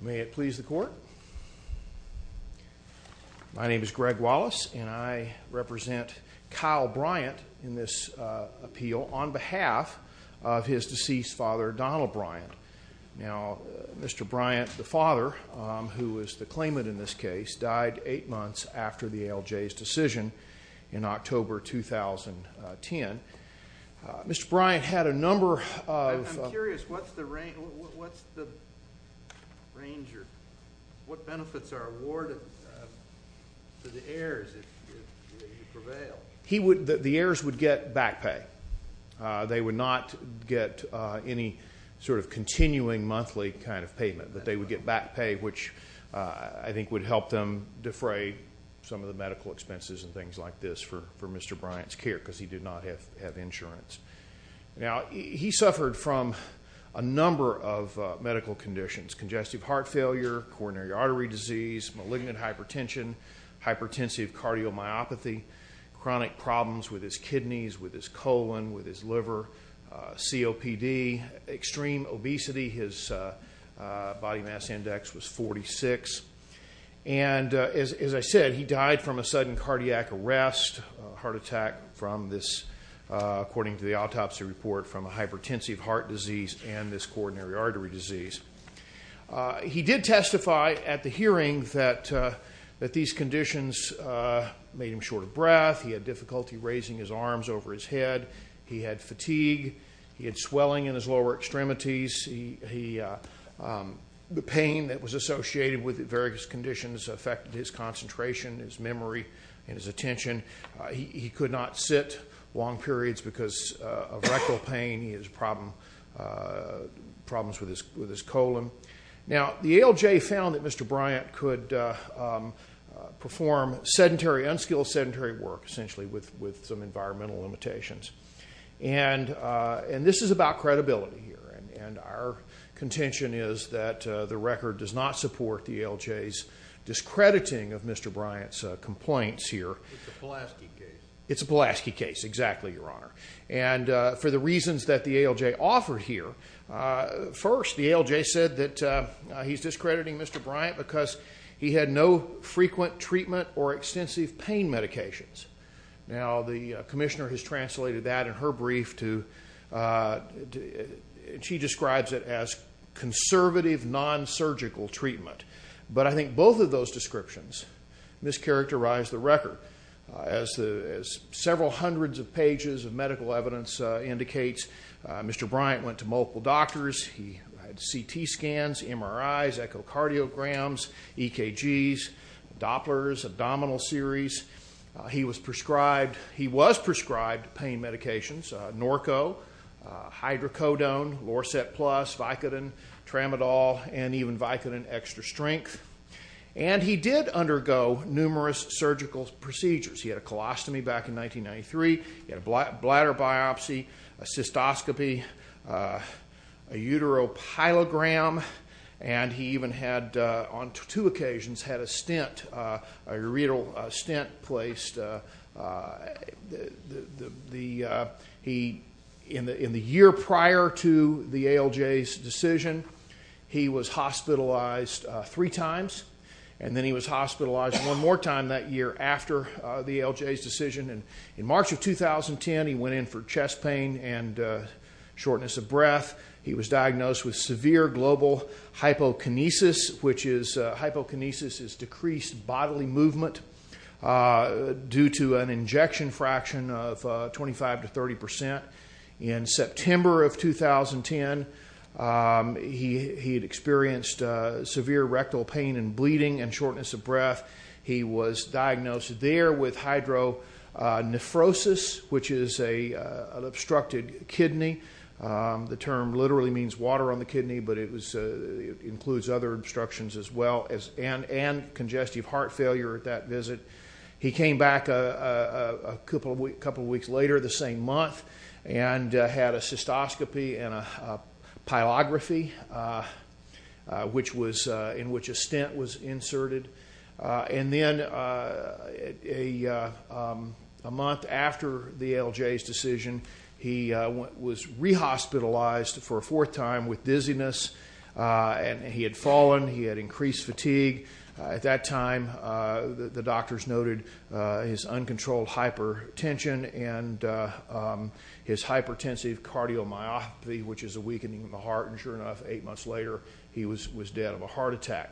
May it please the court. My name is Greg Wallace and I represent Kyle Bryant in this appeal on behalf of his deceased father Donald Bryant. Now Mr. Bryant, the father who was the claimant in this case, died eight months after the ALJ's decision in October 2010. Mr. Bryant had a number of... I'm curious what's the range or what benefits are awarded to the heirs if you prevail? The heirs would get back pay. They would not get any sort of continuing monthly kind of payment but they would get back pay which I think would help them defray some of the medical expenses and things like this for for Mr. Bryant's care because he did not have insurance. Now he suffered from a number of medical conditions, congestive heart failure, coronary artery disease, malignant hypertension, hypertensive cardiomyopathy, chronic problems with his kidneys, with his colon, with his liver, COPD, extreme obesity. His body mass index was 46 and as I said he died from a according to the autopsy report from a hypertensive heart disease and this coronary artery disease. He did testify at the hearing that that these conditions made him short of breath. He had difficulty raising his arms over his head. He had fatigue. He had swelling in his lower extremities. The pain that was associated with various conditions affected his concentration, his memory, and his attention. He could not sit long periods because of rectal pain. He had problems with his colon. Now the ALJ found that Mr. Bryant could perform sedentary, unskilled sedentary work essentially with some environmental limitations and this is about credibility here and our contention is that the record does not support the ALJ's discrediting of Mr. Bryant's here. It's a Pulaski case exactly your honor and for the reasons that the ALJ offered here, first the ALJ said that he's discrediting Mr. Bryant because he had no frequent treatment or extensive pain medications. Now the Commissioner has translated that in her brief to she describes it as conservative non-surgical treatment but I think both of those descriptions mischaracterize the record as several hundreds of pages of medical evidence indicates Mr. Bryant went to multiple doctors. He had CT scans, MRIs, echocardiograms, EKGs, Dopplers, abdominal series. He was prescribed pain medications, Norco, Hydrocodone, Lorset Plus, Vicodin, Tramadol and even Vicodin extra strength and he did undergo numerous surgical procedures. He had a colostomy back in 1993, he had a bladder biopsy, a cystoscopy, a uteropilogram and he even had on two in the in the year prior to the ALJ's decision he was hospitalized three times and then he was hospitalized one more time that year after the ALJ's decision and in March of 2010 he went in for chest pain and shortness of breath. He was diagnosed with severe global hypokinesis which is hypokinesis is decreased bodily movement due to an injection fraction of 25 to 30 percent in September of 2010. He had experienced severe rectal pain and bleeding and shortness of breath. He was diagnosed there with hydronephrosis which is a obstructed kidney. The term literally means water on the kidney but it was includes other obstructions as well as and congestive heart failure at that and had a cystoscopy and a pyrography which was in which a stent was inserted and then a month after the ALJ's decision he was re-hospitalized for a fourth time with dizziness and he had fallen, he had increased fatigue. At that time the doctors noted his uncontrolled hypertension and his hypertensive cardiomyopathy which is a weakening of the heart and sure enough eight months later he was was dead of a heart attack.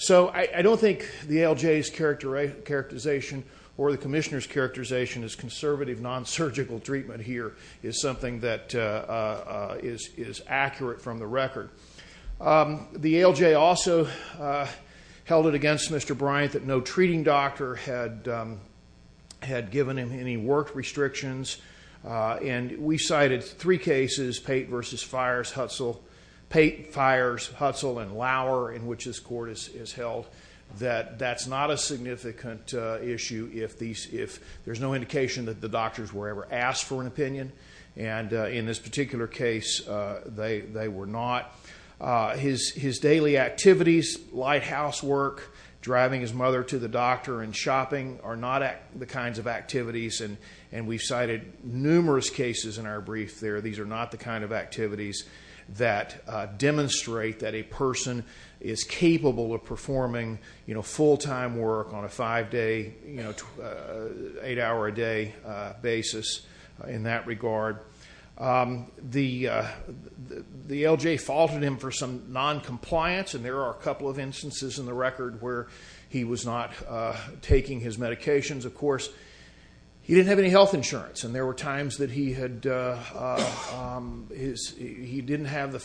So I don't think the ALJ's characterization or the Commissioner's characterization as conservative non-surgical treatment here is something that is accurate from the record. The ALJ also held it against Mr. Bryant that no treating doctor had had given him any work restrictions and we cited three cases, Pate versus Fires, Hutzel, Pate, Fires, Hutzel and Lauer in which this court is held that that's not a significant issue if these if there's no indication that the doctors were ever asked for an opinion and in this driving his mother to the doctor and shopping are not the kinds of activities and we cited numerous cases in our brief there these are not the kind of activities that demonstrate that a person is capable of performing you know full-time work on a five day, eight hour a day basis in that regard. The ALJ faulted him for some non-compliance and there are a couple of instances in the case where he was not taking his medications of course he didn't have any health insurance and there were times that he had his he didn't have the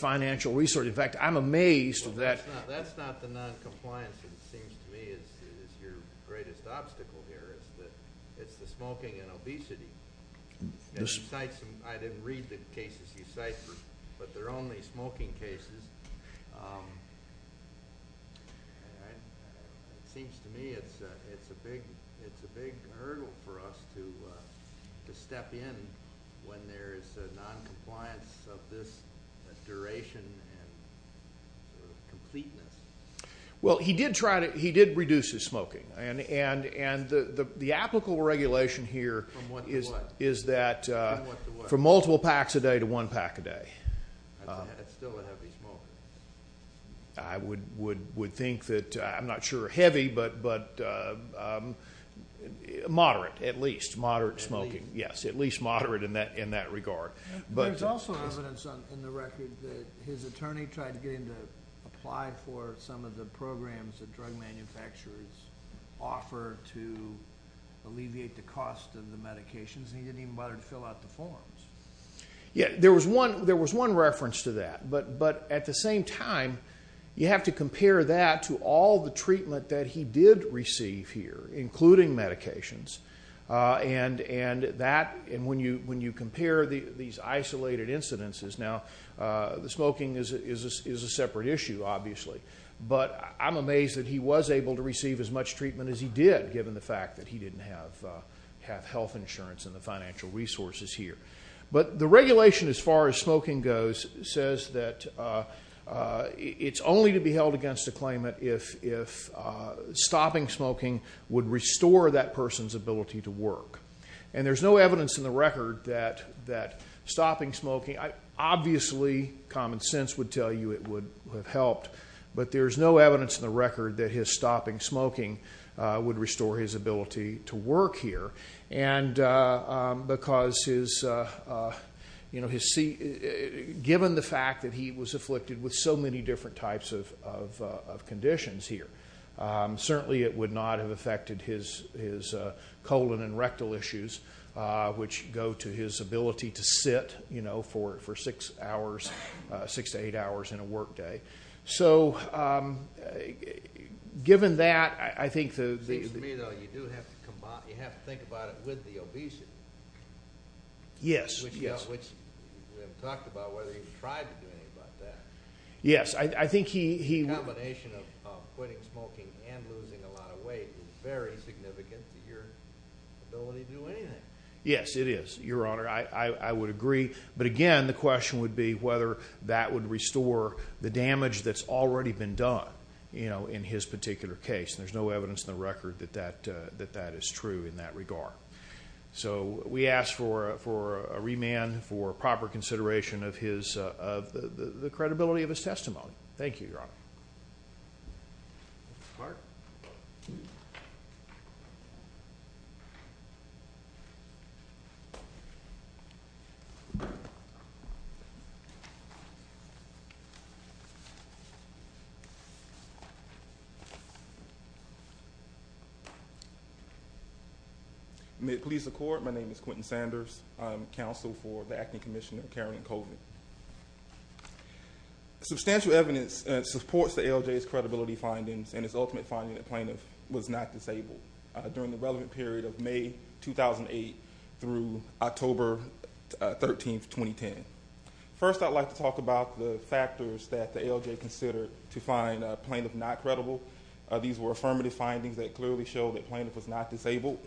seems to me it's it's a big it's a big hurdle for us to to step in when there's a non-compliance of this duration and completeness. Well he did try to he did reduce his smoking and and and the the applicable regulation here is is that for multiple packs a day to one pack a day I would would think that I'm not sure heavy but but moderate at least moderate smoking yes at least moderate in that in that regard. But there's also evidence in the record that his attorney tried to get him to apply for some of the programs that drug manufacturers offer to alleviate the cost of the medications and he didn't even bother to fill out the forms. Yeah there was one there was one reference to that but but at the same time you have to compare that to all the treatment that he did receive here including medications and and that and when you when you compare the these isolated incidences now the smoking is a separate issue obviously but I'm amazed that he was able to receive as much treatment as he did given the fact that he didn't have have health insurance and the financial resources here but the against the claimant if if stopping smoking would restore that person's ability to work and there's no evidence in the record that that stopping smoking I obviously common sense would tell you it would have helped but there's no evidence in the record that his stopping smoking would restore his ability to work here and because his you know his see given the fact that he was afflicted with so many different types of conditions here certainly it would not have affected his his colon and rectal issues which go to his ability to sit you know for for six hours six to eight hours in a workday so given that I think yes yes yes it is your honor I I would agree but again the question would be whether that would restore the damage that's already been done you know in his particular case there's no evidence in the record that that that that is true in that regard so we ask for for a remand for proper consideration of his of the the credibility of his testimony thank you your honor may it please the court my name is Quentin Sanders I'm counsel for the substantial evidence supports the LJ's credibility findings and its ultimate finding that plaintiff was not disabled during the relevant period of May 2008 through October 13th 2010 first I'd like to talk about the factors that the LJ considered to find plaintiff not credible these were affirmative findings that clearly show that plaintiff was not disabled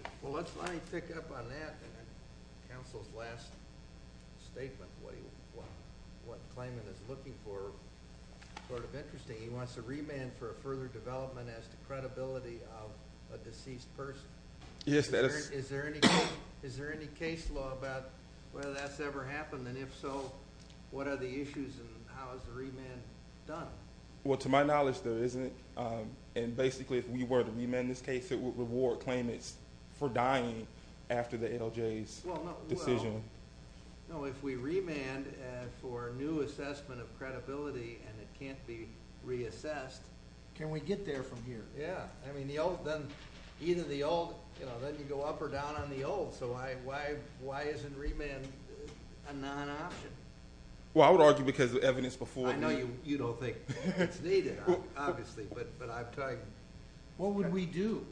yes that is is there any is there any case law about whether that's ever happened and if so what are the issues and how is the remand done well to my in this case it would reward claim it's for dying after the LJ's decision no if we remand for new assessment of credibility and it can't be reassessed can we get there from here yeah I mean the old then either the old you know then you go up or down on the old so I why why isn't remand a non-option well I would argue because the evidence before I know you you don't think it's needed obviously but but I've tried what would we do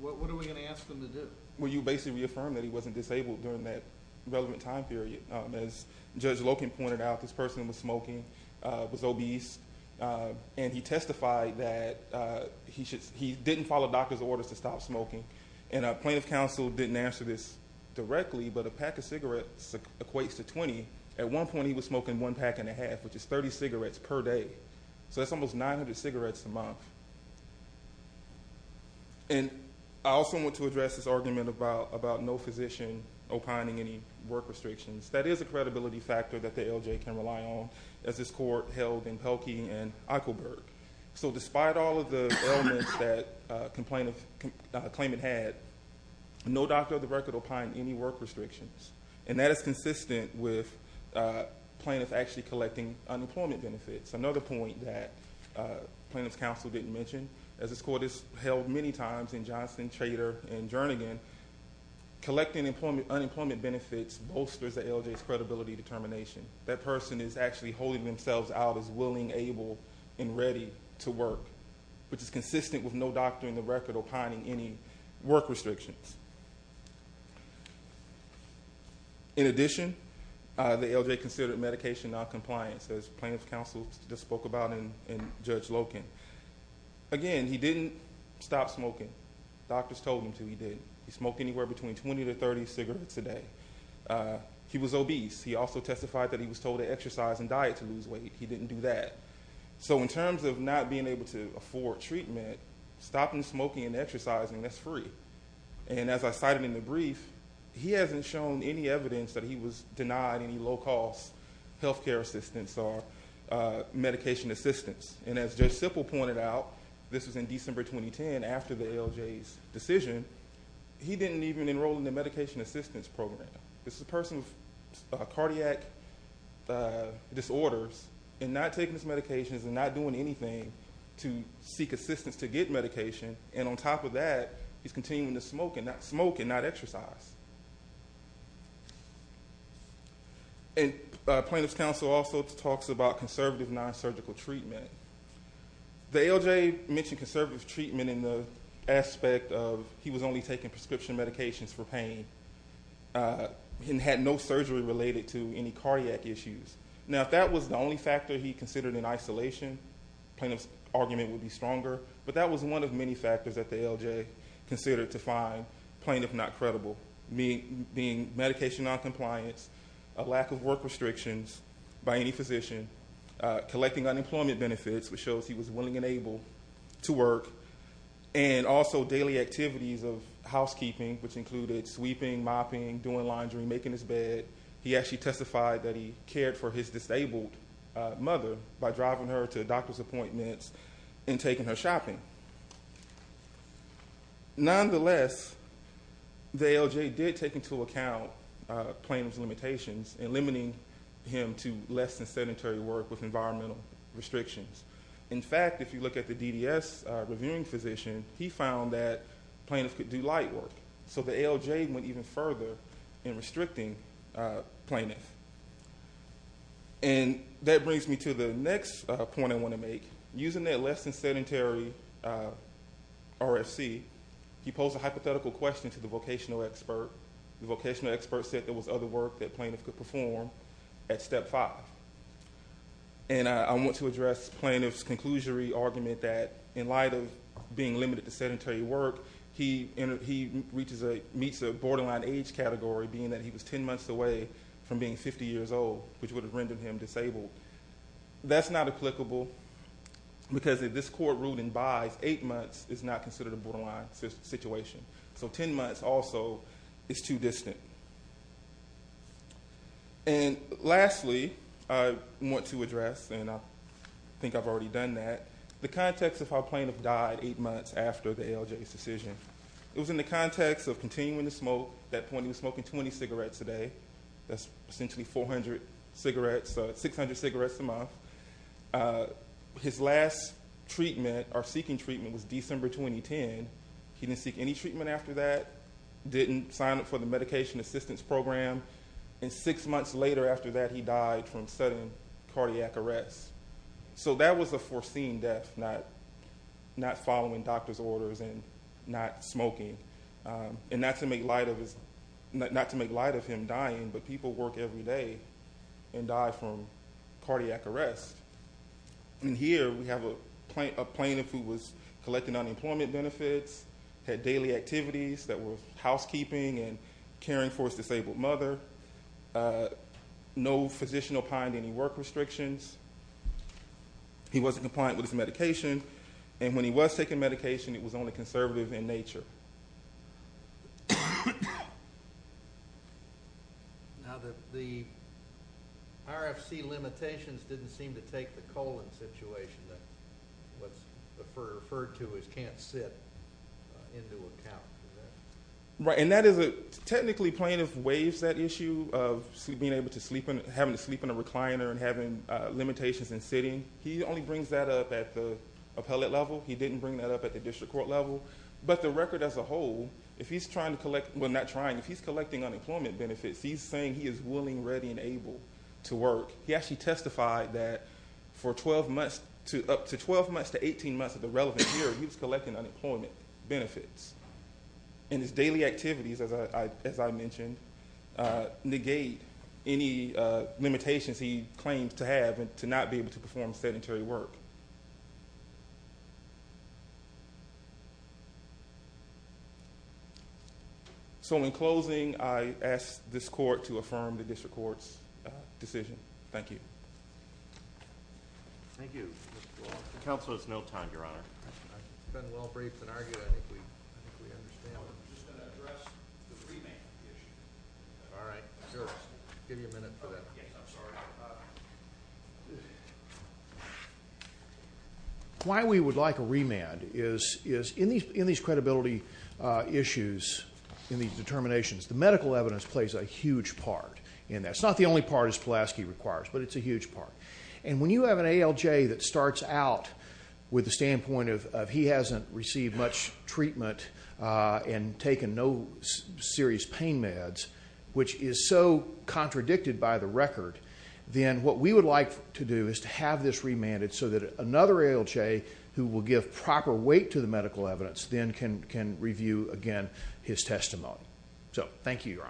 what are we going to ask them to do will you basically affirm that he wasn't disabled during that relevant time period as judge Loken pointed out this person was smoking was obese and he testified that he should he didn't follow doctor's orders to stop smoking and a plaintiff counsel didn't answer this directly but a pack of cigarettes equates to 20 at one point he was smoking one pack and a half which is 30 cigarettes a month and I also want to address this argument about about no physician opining any work restrictions that is a credibility factor that the LJ can rely on as this court held in Pelkey and Eichelberg so despite all of the elements that complain of claimant had no doctor of the record opined any work restrictions and that is consistent with plaintiff actually collecting unemployment benefits another point that plaintiff's counsel didn't mention as this court is held many times in Johnson Trader and Jernigan collecting employment unemployment benefits bolsters the LJ credibility determination that person is actually holding themselves out as willing able and ready to work which is consistent with no doctor in the record opining any work restrictions in addition the LJ considered medication non-compliance as plaintiff's counsel just spoke about in Judge Loken again he didn't stop smoking doctors told him to he didn't he smoked anywhere between 20 to 30 cigarettes a day he was obese he also testified that he was told to exercise and diet to lose weight he didn't do that so in terms of not being able to and as I cited in the brief he hasn't shown any evidence that he was denied any low-cost health care assistance or medication assistance and as Judge Simple pointed out this was in December 2010 after the LJ's decision he didn't even enroll in the medication assistance program this is a person with cardiac disorders and not taking his medications and not doing anything to seek smoking that smoke and not exercise and plaintiff's counsel also talks about conservative non-surgical treatment the LJ mentioned conservative treatment in the aspect of he was only taking prescription medications for pain and had no surgery related to any cardiac issues now that was the only factor he considered in isolation plaintiff's argument would be stronger but that was one of many factors that the LJ considered to find plaintiff not credible me being medication non-compliance a lack of work restrictions by any physician collecting unemployment benefits which shows he was willing and able to work and also daily activities of housekeeping which included sweeping, mopping, doing laundry, making his bed he actually testified that he cared for his disabled mother by driving her to doctor's appointments and taking her shopping. Nonetheless the LJ did take into account plaintiff's limitations and limiting him to less than sedentary work with environmental restrictions in fact if you look at the DDS reviewing physician he found that plaintiff could do light work so the LJ went even further in restricting plaintiff and that brings me to the next point I want to make using that less than sedentary RFC he posed a hypothetical question to the vocational expert the vocational expert said there was other work that plaintiff could perform at step five and I want to address plaintiff's conclusory argument that in light of being limited to sedentary work he reaches a meets a borderline age category being that he was 10 months away from being 50 years old which would have rendered him disabled that's not applicable because if this court ruled in buys eight months is not considered a borderline situation so 10 months also is too distant and lastly I want to address and I think I've already done that the context of how plaintiff died eight months after the LJ's decision it was in the context of continuing to smoke at that point he was smoking 20 cigarettes a day that's essentially 400 cigarettes 600 cigarettes a month his last treatment or seeking treatment was December 2010 he didn't seek any treatment after that didn't sign up for the medication assistance program and six months later after that he died from sudden cardiac arrest so that was a foreseen death not not following doctor's orders and not smoking and not to make light of his not to make light of him every day and die from cardiac arrest and here we have a plaintiff who was collecting unemployment benefits had daily activities that were housekeeping and caring for his disabled mother no physician opined any work restrictions he wasn't compliant with his medication and when he was taking medication it was RFC limitations didn't seem to take the colon situation that what's referred to as can't sit into account right and that is a technically plaintiff waves that issue of being able to sleep and having to sleep in a recliner and having limitations in sitting he only brings that up at the appellate level he didn't bring that up at the district court level but the record as a whole if he's trying to collect well not trying if he's collecting unemployment benefits he's saying he is willing ready and able to work he actually testified that for 12 months to up to 12 months to 18 months of the relevant year he was collecting unemployment benefits and his daily activities as I mentioned negate any limitations he claims to have and to not be able to perform sedentary work so in closing I asked this court to affirm the district courts decision thank you thank you counsel it's no time your honor why we would like a remand is is in these in these credibility issues in these determinations the medical evidence plays a huge part in that's not the only part as Pulaski requires but it's a huge part and when you have an ALJ that starts out with the standpoint of he hasn't received much treatment and taken no serious pain meds which is so contradicted by the record then what we would like to do is to have this remanded so that another ALJ who will give proper weight to the medical evidence then can can review again his testimony so thank you